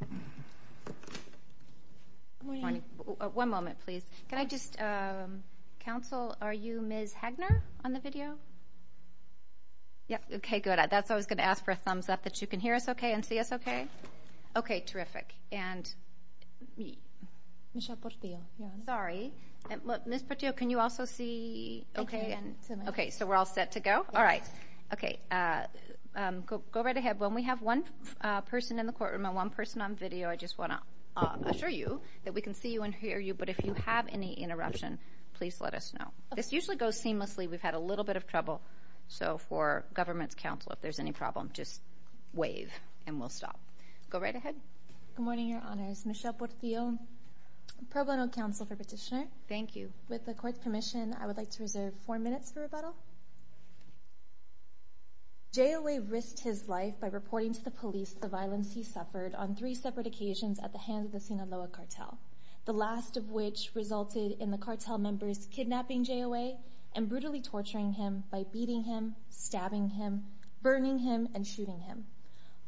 Good morning. One moment, please. Can I just, counsel, are you Ms. Hagner on the video? Yes. Okay, good. That's why I was going to ask for a thumbs up that you can hear us okay and see us okay. Okay, terrific. And me. Michelle Portillo. Sorry. Ms. Portillo, can you also see okay? Okay, so we're all set to go? All right. Okay. Go right ahead. When we have one person in the courtroom and one person on video, I just want to assure you that we can see you and hear you, but if you have any interruption, please let us know. This usually goes seamlessly. We've had a little bit of trouble, so for government's counsel, if there's any problem, just wave and we'll stop. Go right ahead. Good morning, Your Honors. Michelle Portillo, pro bono counsel for petitioner. Thank you. With the court's permission, I the violence he suffered on three separate occasions at the hands of the Sinaloa cartel, the last of which resulted in the cartel members kidnapping J-O-A and brutally torturing him by beating him, stabbing him, burning him, and shooting him.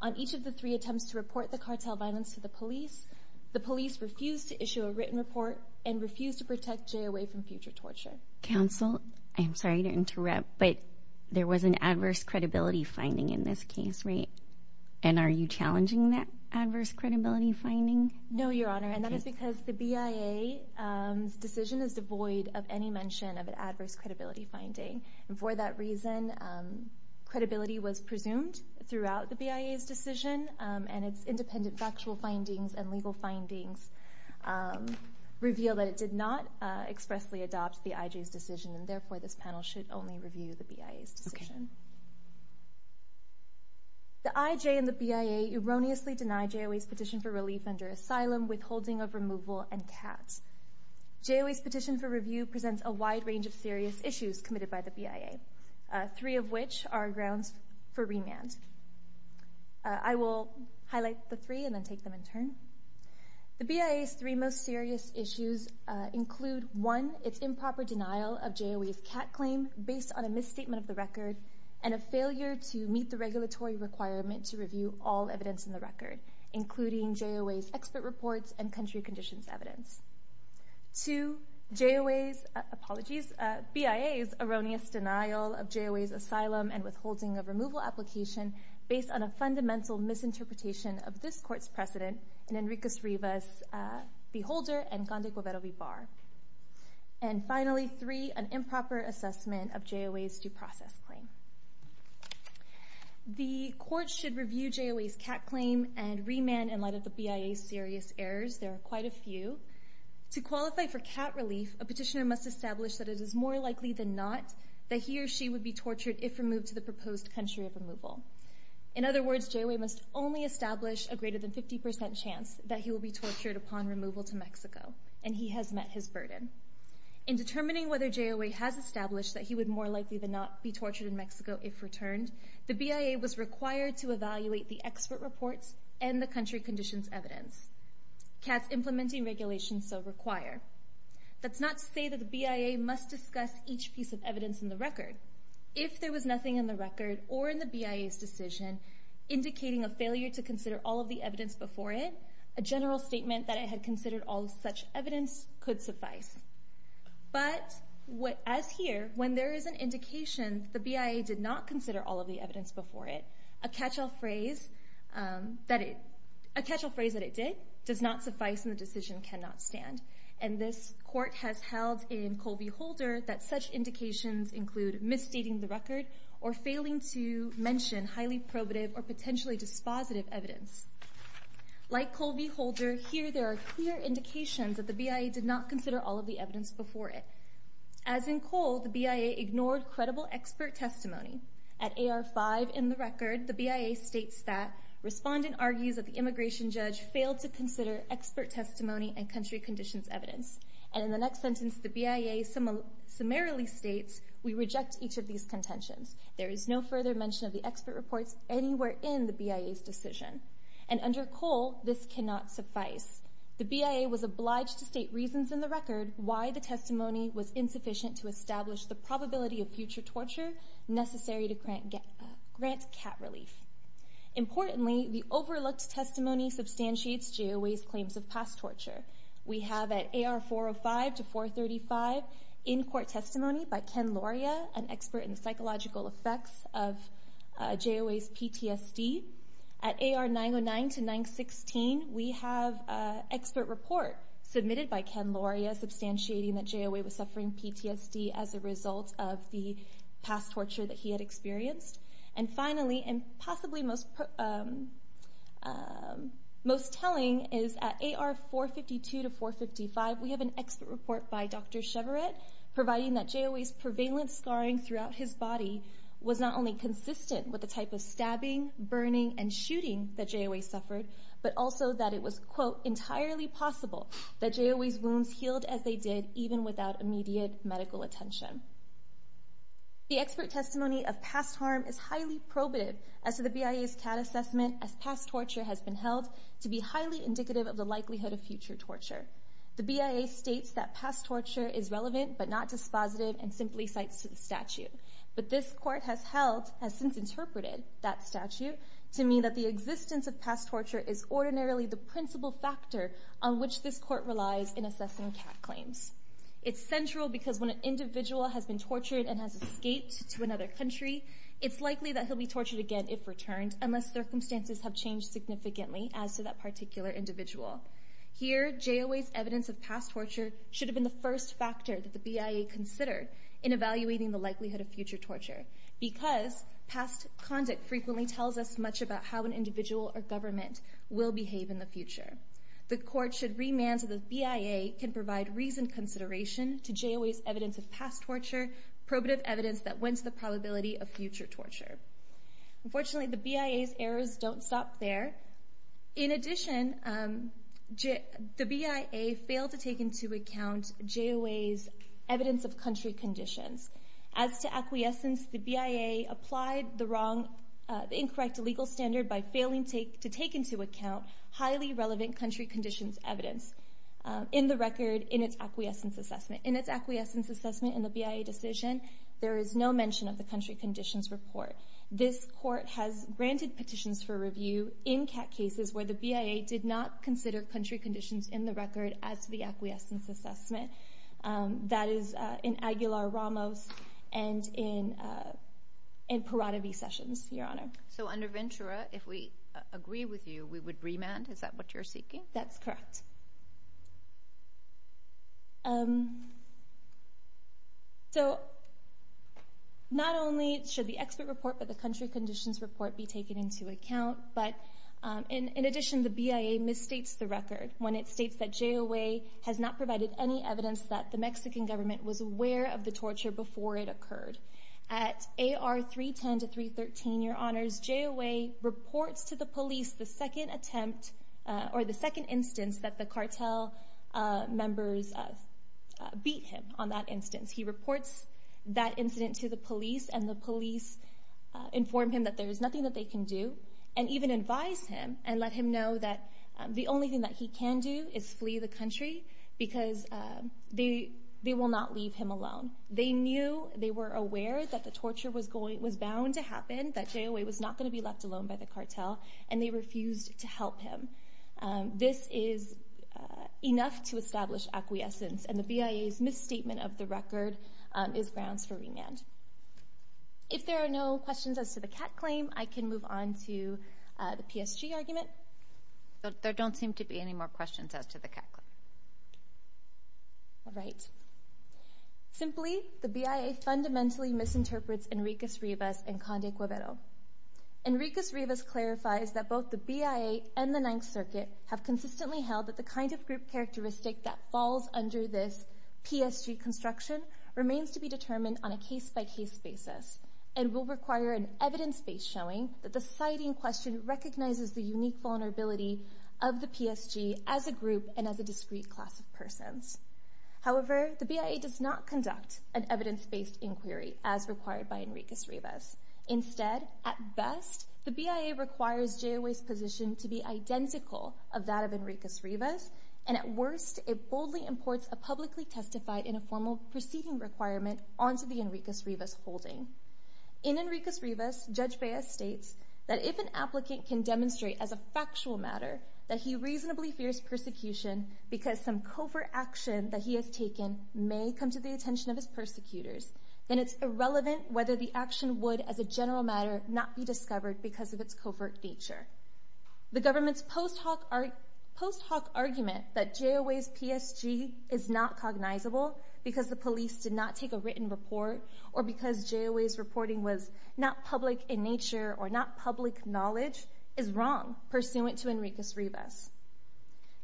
On each of the three attempts to report the cartel violence to the police, the police refused to issue a written report and refused to protect J-O-A from future torture. Counsel, I'm sorry to interrupt, but there was an adverse credibility finding in this case, right? And are you challenging that adverse credibility finding? No, Your Honor, and that is because the BIA's decision is devoid of any mention of an adverse credibility finding, and for that reason, credibility was presumed throughout the BIA's decision, and its independent factual findings and legal findings reveal that it did not expressly adopt the IJ's decision, and therefore this is a false accusation. The IJ and the BIA erroneously deny J-O-A's petition for relief under asylum, withholding of removal, and CAT. J-O-A's petition for review presents a wide range of serious issues committed by the BIA, three of which are grounds for remand. I will highlight the three and then take them in turn. The BIA's three most serious issues include, one, its improper denial of J-O-A's CAT claim based on a misstatement of the record, and a failure to meet the regulatory requirement to review all evidence in the record, including J-O-A's expert reports and country conditions evidence. Two, BIA's erroneous denial of J-O-A's asylum and withholding of removal application based on a fundamental misinterpretation of this court's precedent in Enriquez-Rivas' Beholder and Conde Guevara-Vibar. And finally, three, an improper assessment of J-O-A's due process claim. The court should review J-O-A's CAT claim and remand in light of the BIA's serious errors. There are quite a few. To qualify for CAT relief, a petitioner must establish that it is more likely than not that he or she would be tortured if removed to the proposed country of removal. In other words, there is a greater than 50% chance that he will be tortured upon removal to Mexico, and he has met his burden. In determining whether J-O-A has established that he would more likely than not be tortured in Mexico if returned, the BIA was required to evaluate the expert reports and the country conditions evidence. CAT's implementing regulations so require. That's not to say that the BIA must discuss each piece of evidence in the record. If there was nothing in the record or in the BIA's decision indicating a failure to consider all of the evidence before it, a general statement that it had considered all such evidence could suffice. But, as here, when there is an indication that the BIA did not consider all of the evidence before it, a catch-all phrase that it did does not suffice and the decision cannot stand. And this court has held in cold beholder that such indications include misstating the record or failing to mention highly probative or potentially dispositive evidence. Like cold beholder, here there are clear indications that the BIA did not consider all of the evidence before it. As in cold, the BIA ignored credible expert testimony. At AR-5 in the record, the BIA states that respondent argues that the immigration judge failed to consider expert testimony and country conditions evidence. And in the next sentence, the BIA summarily states, we reject each of these contentions. There is no further mention of the expert reports anywhere in the BIA's decision. And under cold, this cannot suffice. The BIA was obliged to state reasons in the record why the testimony was insufficient to establish the probability of future torture necessary to grant cat relief. Importantly, the overlooked testimony substantiates Geoway's claims of past torture. We have at AR-405 to 435 in-court testimony by Ken Lauria, an expert in the psychological effects of Geoway's PTSD. At AR-909 to 916, we have expert report submitted by Ken Lauria substantiating that Geoway was suffering PTSD as a result of the past torture that he had experienced. And finally, and possibly most telling, is at AR-452 to 455, we have an expert report by Dr. Chevret providing that Geoway's prevalent scarring throughout his body was not only consistent with the type of stabbing, burning, and shooting that Geoway suffered, but also that it was, quote, entirely possible that Geoway's wounds healed as they did even without immediate medical attention. The expert testimony of past harm is highly probative as to the BIA's cat assessment as past torture has been held to be highly indicative of the likelihood of future torture. The BIA states that past torture is relevant but not dispositive and simply cites to the statute. But this court has held, has since interpreted that statute to mean that the existence of past torture is ordinarily the principal factor on which this court relies in assessing cat claims. It's central because when an individual has been tortured and has escaped to another country, it's likely that he'll be tortured again if returned unless circumstances have changed significantly as to that particular individual. Here Geoway's evidence of past torture should have been the first factor that the BIA considered in evaluating the likelihood of future torture because past conduct frequently tells us much about how an individual or government will behave in the future. The court should remand to the BIA can provide reasoned consideration to Geoway's evidence of past torture, probative evidence that went to the probability of future torture. Unfortunately, the BIA's errors don't stop there. In addition, the BIA failed to take into account Geoway's evidence of country conditions. As to acquiescence, the BIA applied the incorrect legal standard by failing to take into account highly relevant country conditions evidence in the record in its acquiescence assessment. In its acquiescence assessment in the BIA decision, there is no mention of the country conditions report. This court has granted petitions for review in cat cases where the BIA did not consider country conditions in the record as the acquiescence assessment. That is in Aguilar-Ramos and in Parada v. Sessions, Your Honor. So under Ventura, if we agree with you, we would remand? Is that what you're seeking? That's correct. So not only should the expert report but the country conditions report be taken into account, but in addition, the BIA misstates the record when it states that Geoway has not provided any evidence that the Mexican government was aware of the torture before it occurred. At AR 310 to 313, Your Honors, Geoway reports to the police the second attempt or the second instance that the cartel members beat him on that instance. He reports that incident to the police and the police inform him that there is nothing that they can do and even advise him and let him know that the only thing that he can do is flee the because they will not leave him alone. They knew, they were aware that the torture was bound to happen, that Geoway was not going to be left alone by the cartel and they refused to help him. This is enough to establish acquiescence and the BIA's misstatement of the record is grounds for remand. If there are no questions as to the cat claim, I can move on to the PSG argument. There don't seem to be any more questions as to the cat claim. All right. Simply, the BIA fundamentally misinterprets Enriquez-Rivas and Conde-Cuevero. Enriquez-Rivas clarifies that both the BIA and the Ninth Circuit have consistently held that the kind of group characteristic that falls under this PSG construction remains to be determined on a case-by-case basis and will require an evidence-based showing that the vulnerability of the PSG as a group and as a discrete class of persons. However, the BIA does not conduct an evidence-based inquiry as required by Enriquez-Rivas. Instead, at best, the BIA requires Geoway's position to be identical of that of Enriquez-Rivas and at worst, it boldly imports a publicly testified in a formal proceeding requirement onto the Enriquez-Rivas holding. In Enriquez-Rivas, Judge Baez states that if an applicant can demonstrate as a factual matter that he reasonably fears persecution because some covert action that he has taken may come to the attention of his persecutors, then it's irrelevant whether the action would, as a general matter, not be discovered because of its covert nature. The government's post hoc argument that Geoway's PSG is not cognizable because the police did not take a written report or because Geoway's reporting was not public in nature or not wrong pursuant to Enriquez-Rivas.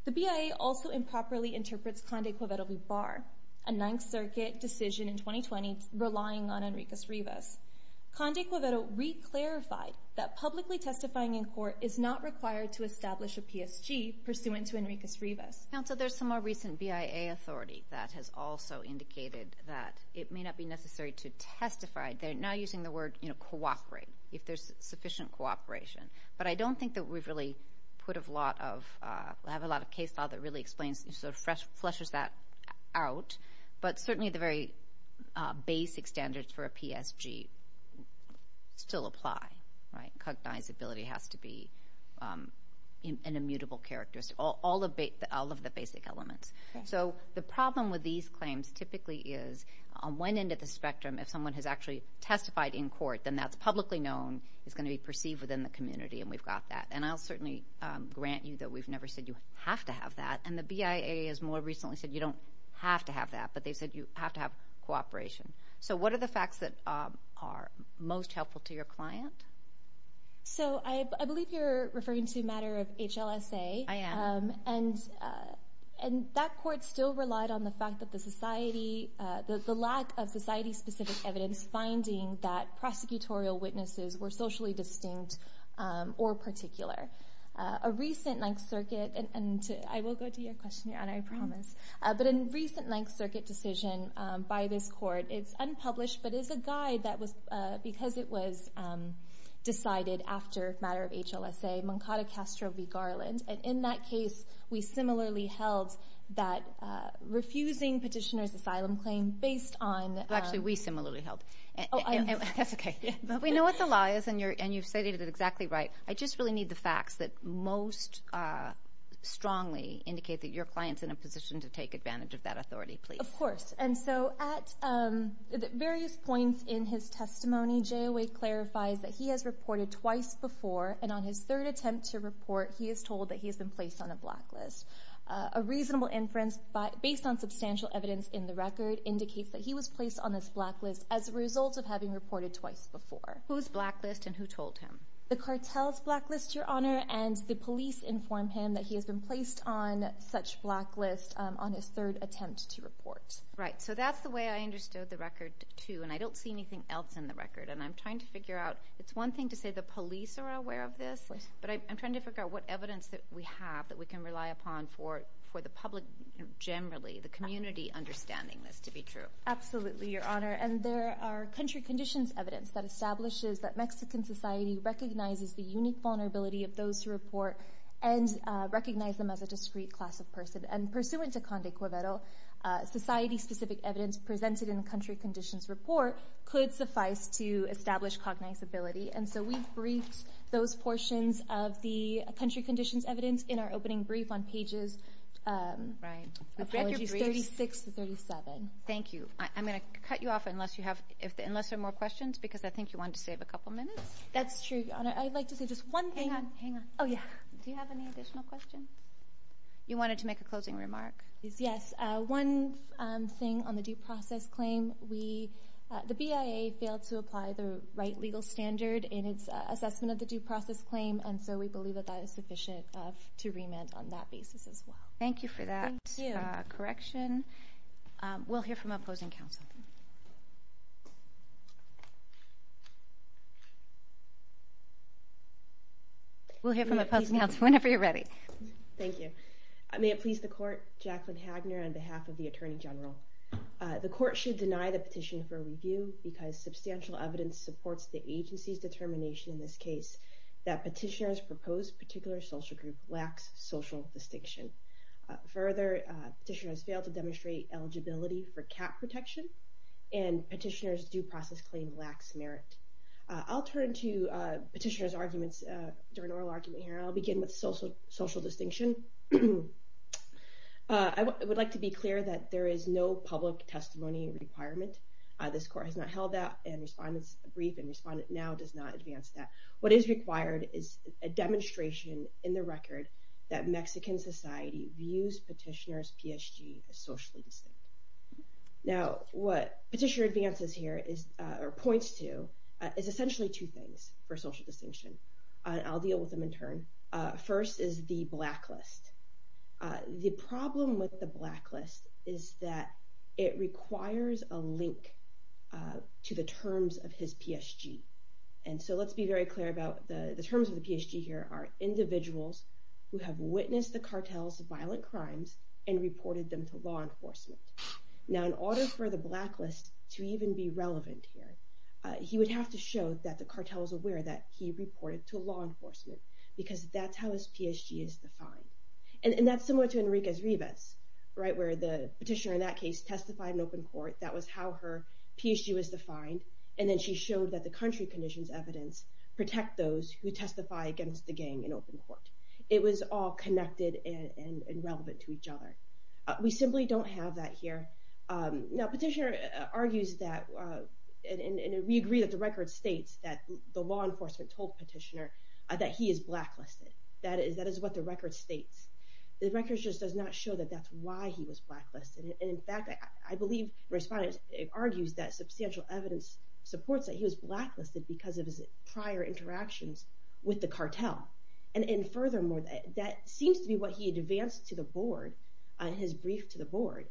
The BIA also improperly interprets Conde Quiveto-Vibar, a Ninth Circuit decision in 2020 relying on Enriquez-Rivas. Conde Quiveto re-clarified that publicly testifying in court is not required to establish a PSG pursuant to Enriquez-Rivas. Counsel, there's some more recent BIA authority that has also indicated that it may not be necessary to testify. They're now using the word cooperate if there's sufficient cooperation. But I don't think that we've really put a lot of, have a lot of case law that really explains, sort of fleshes that out. But certainly the very basic standards for a PSG still apply, right? Cognizability has to be an immutable characteristic, all of the basic elements. So the problem with these claims typically is on one end of the spectrum, if someone has actually And I'll certainly grant you that we've never said you have to have that. And the BIA has more recently said you don't have to have that. But they've said you have to have cooperation. So what are the facts that are most helpful to your client? So I believe you're referring to a matter of HLSA. I am. And that court still relied on the fact that the society, the lack of society-specific evidence was finding that prosecutorial witnesses were socially distinct or particular. A recent Ninth Circuit, and I will go to your question, Your Honor, I promise. But a recent Ninth Circuit decision by this court, it's unpublished, but it's a guide that was, because it was decided after a matter of HLSA, Moncada Castro v. Garland. And in that case, we similarly held that refusing petitioner's asylum claim based on Actually, we similarly held it. That's okay. But we know what the law is, and you've stated it exactly right. I just really need the facts that most strongly indicate that your client's in a position to take advantage of that authority, please. Of course. And so at various points in his testimony, JOA clarifies that he has reported twice before, and on his third attempt to report, he is told that he has been placed on a blacklist. A reasonable inference, based on substantial evidence in the record, indicates that he was placed on this blacklist as a result of having reported twice before. Whose blacklist, and who told him? The cartel's blacklist, Your Honor, and the police informed him that he has been placed on such blacklist on his third attempt to report. Right. So that's the way I understood the record, too, and I don't see anything else in the record. And I'm trying to figure out, it's one thing to say the police are aware of this, but I'm trying to figure out what evidence that we have that we can rely upon for the public generally, the community understanding this to be true. Absolutely, Your Honor. And there are country conditions evidence that establishes that Mexican society recognizes the unique vulnerability of those who report and recognize them as a discreet class of person. And pursuant to Condé Cuivero, society-specific evidence presented in the country conditions report could suffice to establish cognizability. And so we briefed those portions of the country conditions evidence in our opening brief on pages 36 to 37. Thank you. I'm going to cut you off unless there are more questions because I think you wanted to save a couple minutes. That's true, Your Honor. I'd like to say just one thing. Hang on. Oh, yeah. Do you have any additional questions? You wanted to make a closing remark. Yes. Just one thing on the due process claim. The BIA failed to apply the right legal standard in its assessment of the due process claim, and so we believe that that is sufficient to remand on that basis as well. Thank you for that correction. We'll hear from opposing counsel. We'll hear from opposing counsel whenever you're ready. Thank you. May it please the court, Jacqueline Hagner on behalf of the Attorney General. The court should deny the petition for review because substantial evidence supports the agency's determination in this case that petitioner's proposed particular social group lacks social distinction. Further, petitioner has failed to demonstrate eligibility for cap protection, and petitioner's due process claim lacks merit. I'll turn to petitioner's arguments during oral argument here, and I'll begin with social distinction. I would like to be clear that there is no public testimony requirement. This court has not held that brief, and respondent now does not advance that. What is required is a demonstration in the record that Mexican society views petitioner's PSG as socially distinct. Now, what petitioner advances here or points to is essentially two things for social distinction. I'll deal with them in turn. First is the blacklist. The problem with the blacklist is that it requires a link to the terms of his PSG. And so let's be very clear about the terms of the PSG here are individuals who have witnessed the cartel's violent crimes and reported them to law enforcement. Now, in order for the blacklist to even be relevant here, he would have to show that the cartel is aware that he reported to law enforcement, because that's how his PSG is defined. And that's similar to Enriquez-Rivas, right, where the petitioner in that case testified in open court. That was how her PSG was defined. And then she showed that the country conditions evidence protect those who testify against the gang in open court. It was all connected and relevant to each other. We simply don't have that here. Now, petitioner argues that, and we agree that the record states that the law enforcement told petitioner that he is blacklisted. That is what the record states. The record just does not show that that's why he was blacklisted. And in fact, I believe the respondent argues that substantial evidence supports that he was blacklisted because of his prior interactions with the cartel. And furthermore, that seems to be what he advanced to the board on his brief to the board.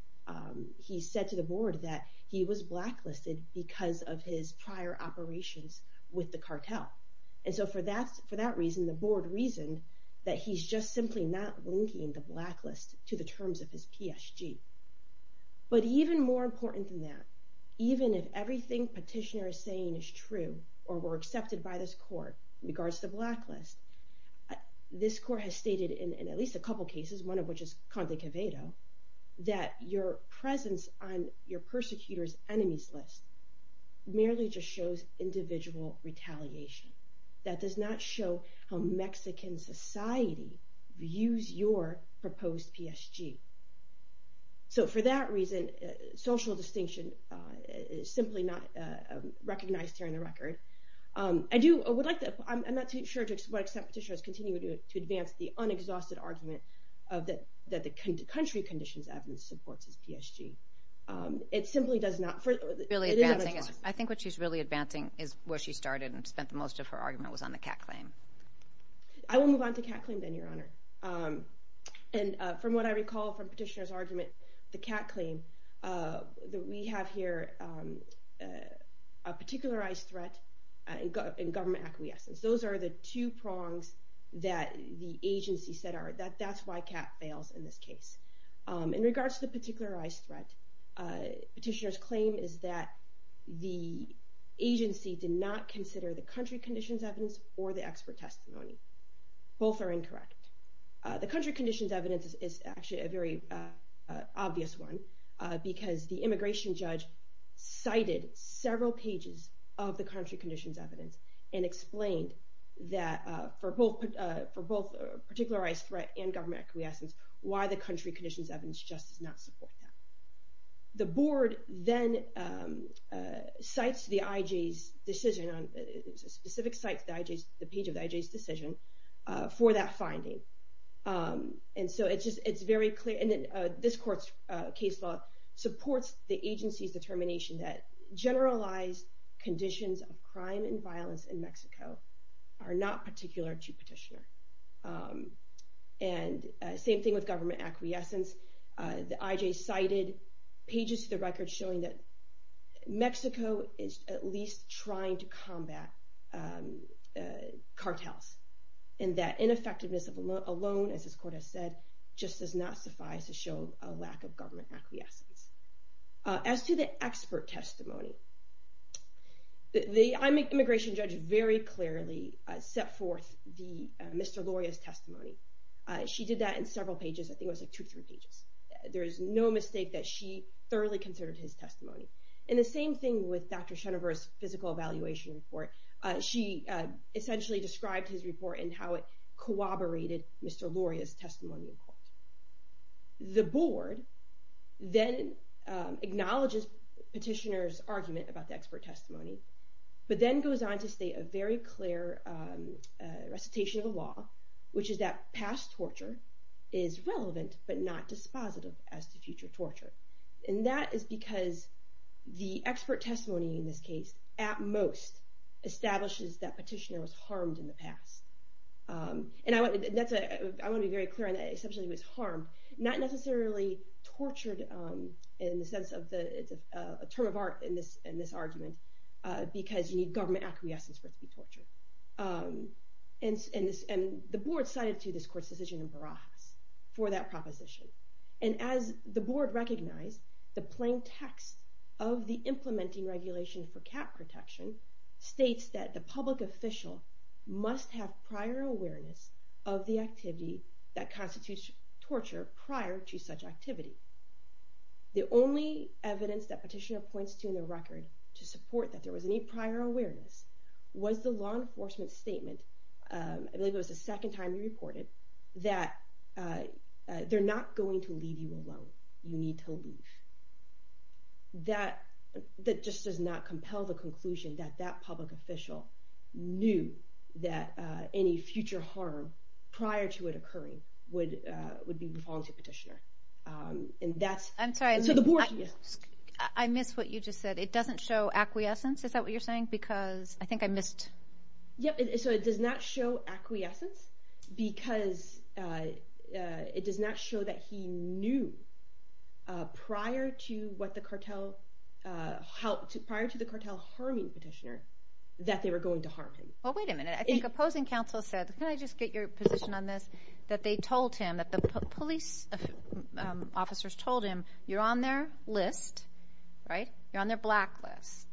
He said to the board that he was blacklisted because of his prior operations with the cartel. And so for that reason, the board reasoned that he's just simply not linking the blacklist to the terms of his PSG. But even more important than that, even if everything petitioner is saying is true or were accepted by this court in regards to the blacklist, this court has stated in at least a couple cases, one of which is Conte Quevedo, that your presence on your persecutors' enemies list merely just shows individual retaliation. That does not show how Mexican society views your proposed PSG. So for that reason, social distinction is simply not recognized here in the record. I'm not too sure to what extent petitioners continue to advance the unexhausted argument that the country conditions evidence supports his PSG. It simply does not. I think what she's really advancing is where she started and spent the most of her argument was on the Kat claim. I will move on to Kat claim then, Your Honor. And from what I recall from petitioner's argument, the Kat claim, we have here a particularized threat and government acquiescence. Those are the two prongs that the agency said are that that's why Kat fails in this case. In regards to the particularized threat, petitioner's claim is that the agency did not consider the country conditions evidence or the expert testimony. Both are incorrect. The country conditions evidence is actually a very obvious one because the immigration judge cited several pages of the country conditions evidence and explained that for both particularized threat and government acquiescence, why the country conditions evidence just does not support that. The board then cites the IJ's decision on a specific site, the page of the IJ's decision for that finding. And so it's very clear. And this court's case law supports the agency's determination that generalized conditions of crime and violence in Mexico are not particular to petitioner. And same thing with government acquiescence. The IJ cited pages of the record showing that Mexico is at least trying to combat cartels. And that ineffectiveness alone, as this court has said, just does not suffice to show a lack of government acquiescence. As to the expert testimony, the immigration judge very clearly set forth the Mr. Loria's testimony. She did that in several pages. I think it was like two or three pages. There is no mistake that she thoroughly considered his testimony. And the same thing with Dr. Shenover's physical evaluation report. She essentially described his report and how it corroborated Mr. Loria's testimony in court. The board then acknowledges petitioner's argument about the expert testimony, but then goes on to state a very clear recitation of the law, which is that past torture is relevant but not dispositive as to future torture. And that is because the expert testimony in this case, at most, establishes that petitioner was harmed in the past. And I want to be very clear on that. Not necessarily tortured in the sense of a term of art in this argument, because you need government acquiescence for it to be tortured. And the board cited to this court's decision in Barajas for that proposition. And as the board recognized, the plain text of the implementing regulation for cat protection states that the public official must have prior awareness of the activity that constitutes torture prior to such activity. The only evidence that petitioner points to in the record to support that there was any prior awareness was the law enforcement statement, I believe it was the second time he reported, that they're not going to leave you alone. You need to leave. That just does not compel the conclusion that that public official knew that any future harm prior to it occurring would be the volunteer petitioner. I'm sorry, I missed what you just said. It doesn't show acquiescence, is that what you're saying? Because I think I missed... Yep, so it does not show acquiescence because it does not show that he knew prior to the cartel harming petitioner that they were going to harm him. Well, wait a minute. I think opposing counsel said, can I just get your position on this, that they told him, that the police officers told him, you're on their list, right? You're on their black list.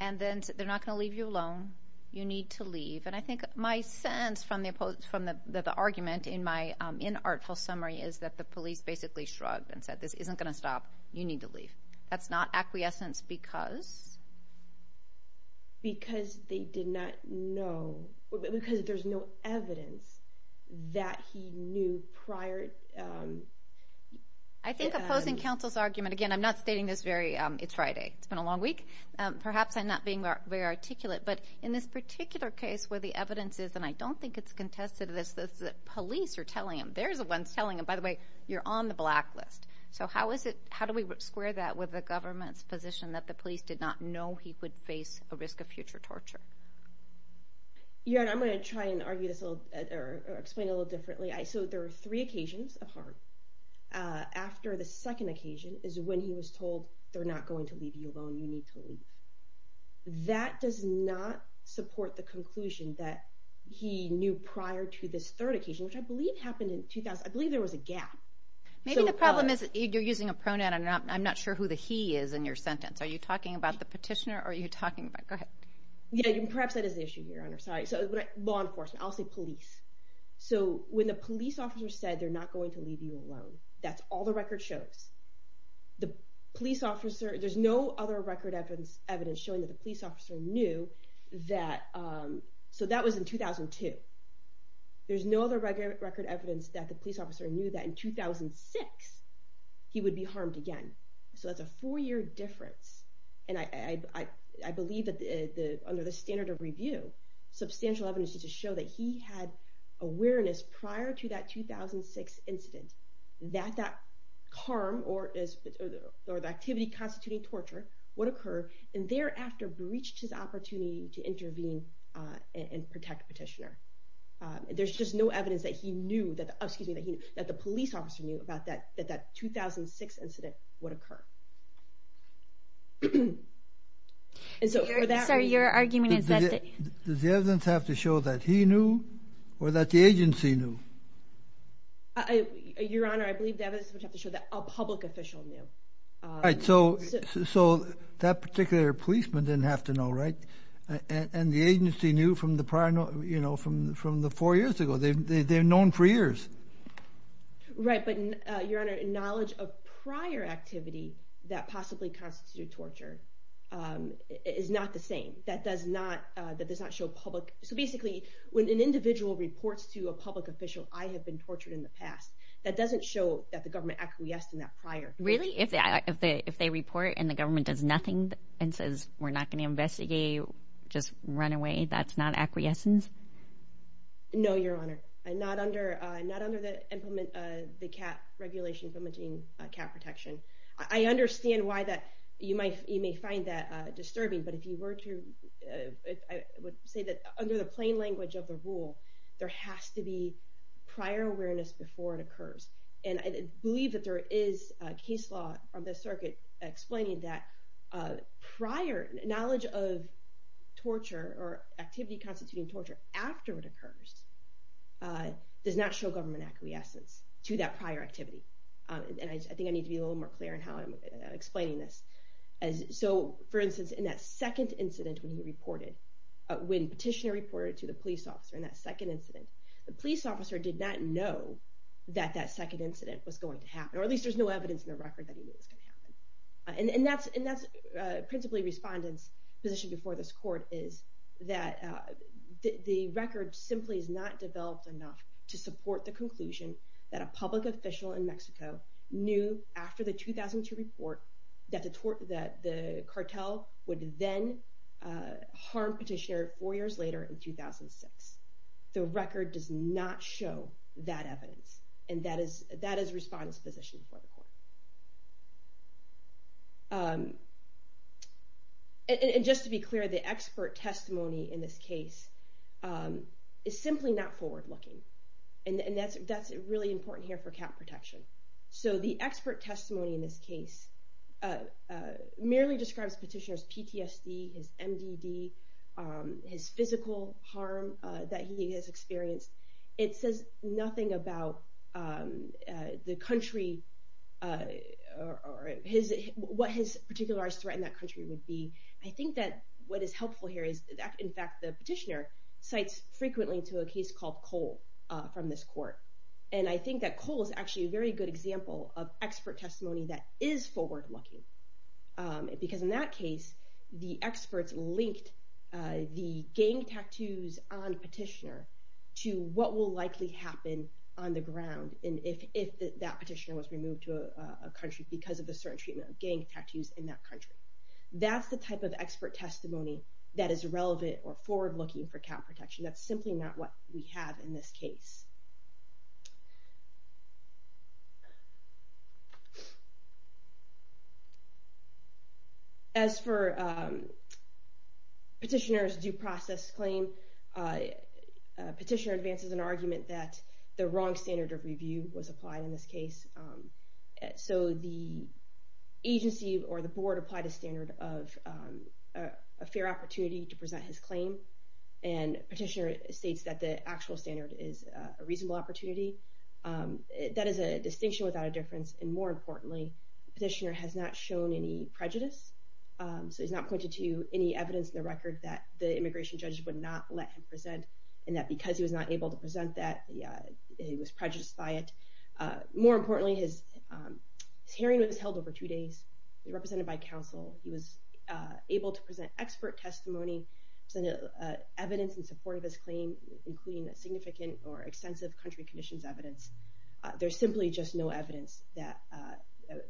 And then they're not going to leave you alone. You need to leave. And I think my sense from the argument in my inartful summary is that the police basically shrugged and said, this isn't going to stop. You need to leave. That's not acquiescence because? Because they did not know, because there's no evidence that he knew prior... I think opposing counsel's argument, again, I'm not stating this very... It's been a long week. Perhaps I'm not being very articulate. But in this particular case where the evidence is, and I don't think it's contested to this, that police are telling him, there's the ones telling him, by the way, you're on the black list. So how do we square that with the government's position that the police did not know he could face a risk of future torture? Yeah, and I'm going to try and argue this, or explain it a little differently. So there are three occasions of harm. After the second occasion is when he was told, they're not going to leave you alone. You need to leave. That does not support the conclusion that he knew prior to this third occasion, which I believe happened in 2000. I believe there was a gap. Maybe the problem is you're using a pronoun, and I'm not sure who the he is in your sentence. Are you talking about the petitioner, or are you talking about... Go ahead. Yeah, perhaps that is the issue here. Law enforcement. I'll say police. So when the police officer said, they're not going to leave you alone, that's all the record shows. There's no other record evidence showing that the police officer knew that... So that was in 2002. There's no other record evidence that the police officer knew that in 2006, he would be harmed again. So that's a four-year difference. And I believe that under the standard of review, substantial evidence to show that he had awareness prior to that 2006 incident, that that harm or the activity constituting torture would occur, and thereafter breached his opportunity to intervene and protect the petitioner. There's just no evidence that the police officer knew that that 2006 incident would occur. Sorry, your argument is that... Does the evidence have to show that he knew, or that the agency knew? Your Honor, I believe the evidence would have to show that a public official knew. All right, so that particular policeman didn't have to know, right? And the agency knew from the four years ago. They've known for years. Right, but your Honor, knowledge of prior activity that possibly constituted torture is not the same. That does not show public... So basically, when an individual reports to a public official, I have been tortured in the past, that doesn't show that the government acquiesced in that prior. Really? If they report and the government does nothing and says, we're not going to investigate, just run away, that's not acquiescence? No, your Honor. I'm not under the CAP regulation, implementing CAP protection. I understand why you may find that disturbing, but if you were to... I would say that under the plain language of the rule, there has to be prior awareness before it occurs. And I believe that there is a case law on the circuit explaining that prior knowledge of torture, or activity constituting torture after it occurs, does not show government acquiescence to that prior activity. And I think I need to be a little more clear in how I'm explaining this. So, for instance, in that second incident when he reported, when Petitioner reported to the police officer in that second incident, the police officer did not know that that second incident was going to happen, or at least there's no evidence in the record that he knew it was going to happen. And that's principally Respondent's position before this court, is that the record simply is not developed enough to support the conclusion that a public official in Mexico knew after the 2002 report that the cartel would then harm Petitioner four years later in 2006. The record does not show that evidence. And that is Respondent's position before the court. And just to be clear, the expert testimony in this case is simply not forward-looking. And that's really important here for count protection. So the expert testimony in this case merely describes Petitioner's PTSD, his MDD, his physical harm that he has experienced. It says nothing about what his particularized threat in that country would be. I think that what is helpful here is that, in fact, the Petitioner cites frequently to a case called Cole from this court. And I think that Cole is actually a very good example of expert testimony that is forward-looking. Because in that case, the experts linked the gang tattoos on Petitioner to what will likely happen on the ground if that Petitioner was removed to a country because of the certain treatment of gang tattoos in that country. That's the type of expert testimony that is relevant or forward-looking for count protection. That's simply not what we have in this case. As for Petitioner's due process claim, Petitioner advances an argument that the wrong standard of review was applied in this case. So the agency or the board applied a standard of a fair opportunity to present his claim. And Petitioner states that the actual standard is a reasonable opportunity. That is a distinction without a difference. And more importantly, Petitioner has not shown any prejudice. So he's not pointed to any evidence in the record that the immigration judge would not let him present, and that because he was not able to present that, he was prejudiced by it. More importantly, his hearing was held over two days. He was represented by counsel. He was able to present expert testimony, present evidence in support of his claim, including significant or extensive country conditions evidence. There's simply just no evidence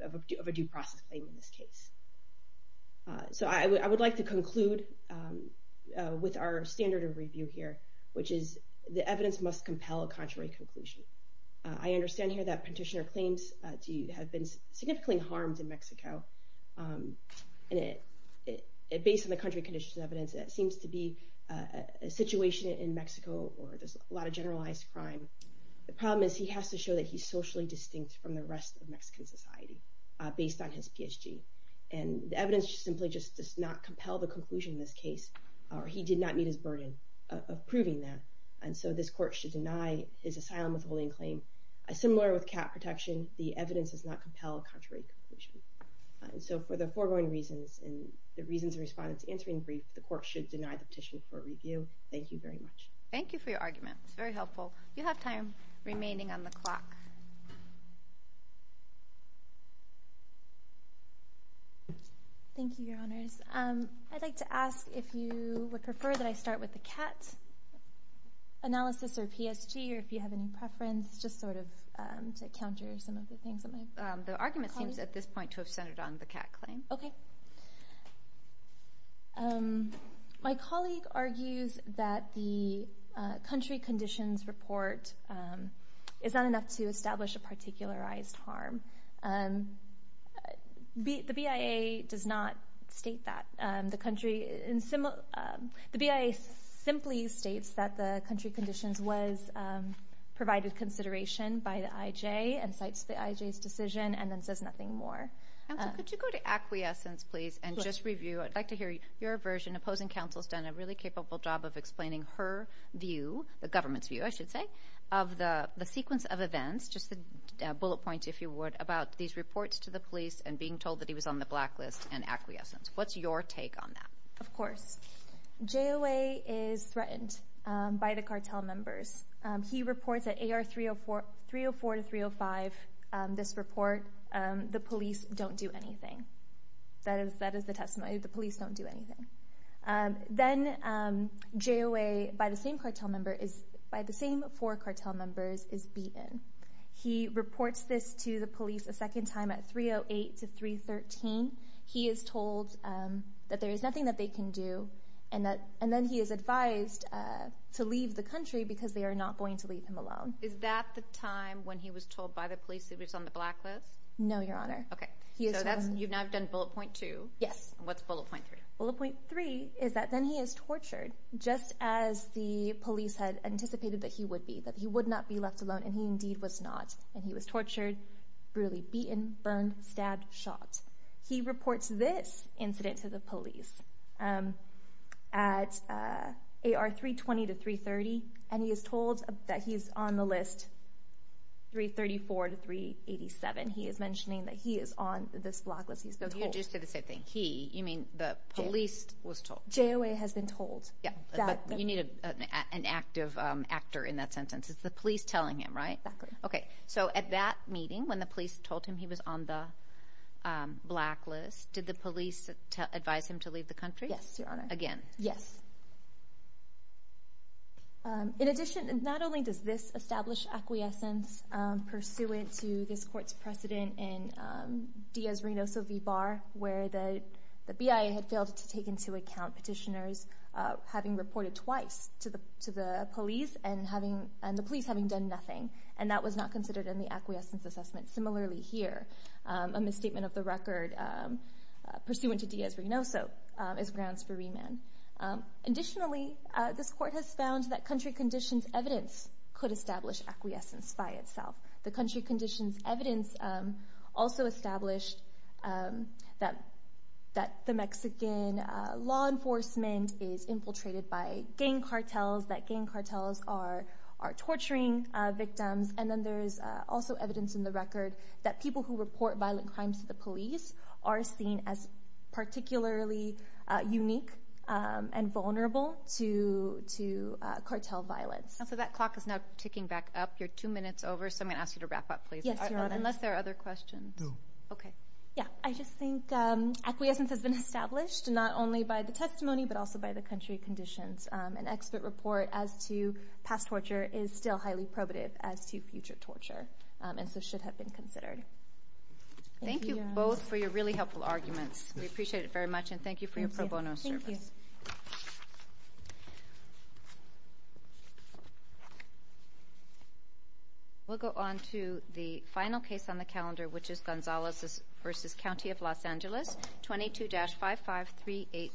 of a due process claim in this case. So I would like to conclude with our standard of review here, which is the evidence must compel a contrary conclusion. I understand here that Petitioner claims to have been significantly harmed in Mexico. And based on the country conditions evidence, it seems to be a situation in Mexico where there's a lot of generalized crime. The problem is he has to show that he's socially distinct from the rest of Mexican society based on his PhD. And the evidence simply just does not compel the conclusion in this case, or he did not meet his burden of proving that. And so this court should deny his asylum withholding claim. Similar with cat protection, the evidence does not compel a contrary conclusion. And so for the foregoing reasons and the reasons the respondents answered in brief, the court should deny the petition for review. Thank you very much. Thank you for your argument. It's very helpful. You have time remaining on the clock. Thank you, Your Honors. I'd like to ask if you would prefer that I start with the cat analysis or PSG, or if you have any preference, just sort of to counter some of the things that my colleague- The argument seems at this point to have centered on the cat claim. Okay. My colleague argues that the country conditions report is not enough to establish a particularized harm. The BIA does not state that. The BIA simply states that the country conditions was provided consideration by the IJ and cites the IJ's decision and then says nothing more. Counsel, could you go to acquiescence, please, and just review? I'd like to hear your version. Opposing counsel has done a really capable job of explaining her view, the government's view, I should say, of the sequence of events, just the bullet points, if you would, about these reports to the police and being told that he was on the blacklist and acquiescence. What's your take on that? Of course. JOA is threatened by the cartel members. He reports that AR 304 to 305, this report, the police don't do anything. That is the testimony. The police don't do anything. Then JOA, by the same four cartel members, is beaten. He reports this to the police a second time at 308 to 313. He is told that there is nothing that they can do, and then he is advised to leave the country because they are not going to leave him alone. Is that the time when he was told by the police that he was on the blacklist? No, Your Honor. Okay. You've now done bullet point two. Yes. What's bullet point three? Bullet point three is that then he is tortured, just as the police had anticipated that he would be, that he would not be left alone, and he indeed was not. He was tortured, brutally beaten, burned, stabbed, shot. He reports this incident to the police at AR 320 to 330, and he is told that he is on the list 334 to 387. He is mentioning that he is on this blacklist. He's been told. You just did the same thing. He, you mean the police, was told. JOA has been told. Yeah, but you need an active actor in that sentence. It's the police telling him, right? Exactly. Okay. So at that meeting, when the police told him he was on the blacklist, did the police advise him to leave the country? Yes, Your Honor. Again. Yes. In addition, not only does this establish acquiescence pursuant to this court's precedent in Diaz-Renoso v. Bar, where the BIA had failed to take into account petitioners having reported twice to the police and the police having done nothing, and that was not considered in the acquiescence assessment. Similarly here, a misstatement of the record pursuant to Diaz-Renoso is grounds for remand. Additionally, this court has found that country conditions evidence could establish acquiescence by itself. The country conditions evidence also established that the Mexican law enforcement is infiltrated by gang cartels, that gang cartels are torturing victims, and then there is also evidence in the record that people who report violent crimes to the police are seen as particularly unique and vulnerable to cartel violence. So that clock is now ticking back up. You're two minutes over, so I'm going to ask you to wrap up, please. Yes, Your Honor. Unless there are other questions. No. Okay. Yeah, I just think acquiescence has been established, not only by the testimony but also by the country conditions. An expert report as to past torture is still highly probative as to future torture and so should have been considered. Thank you both for your really helpful arguments. We appreciate it very much, and thank you for your pro bono service. Thank you. Thank you. We'll go on to the final case on the calendar, which is Gonzalez v. County of Los Angeles, 22-55386.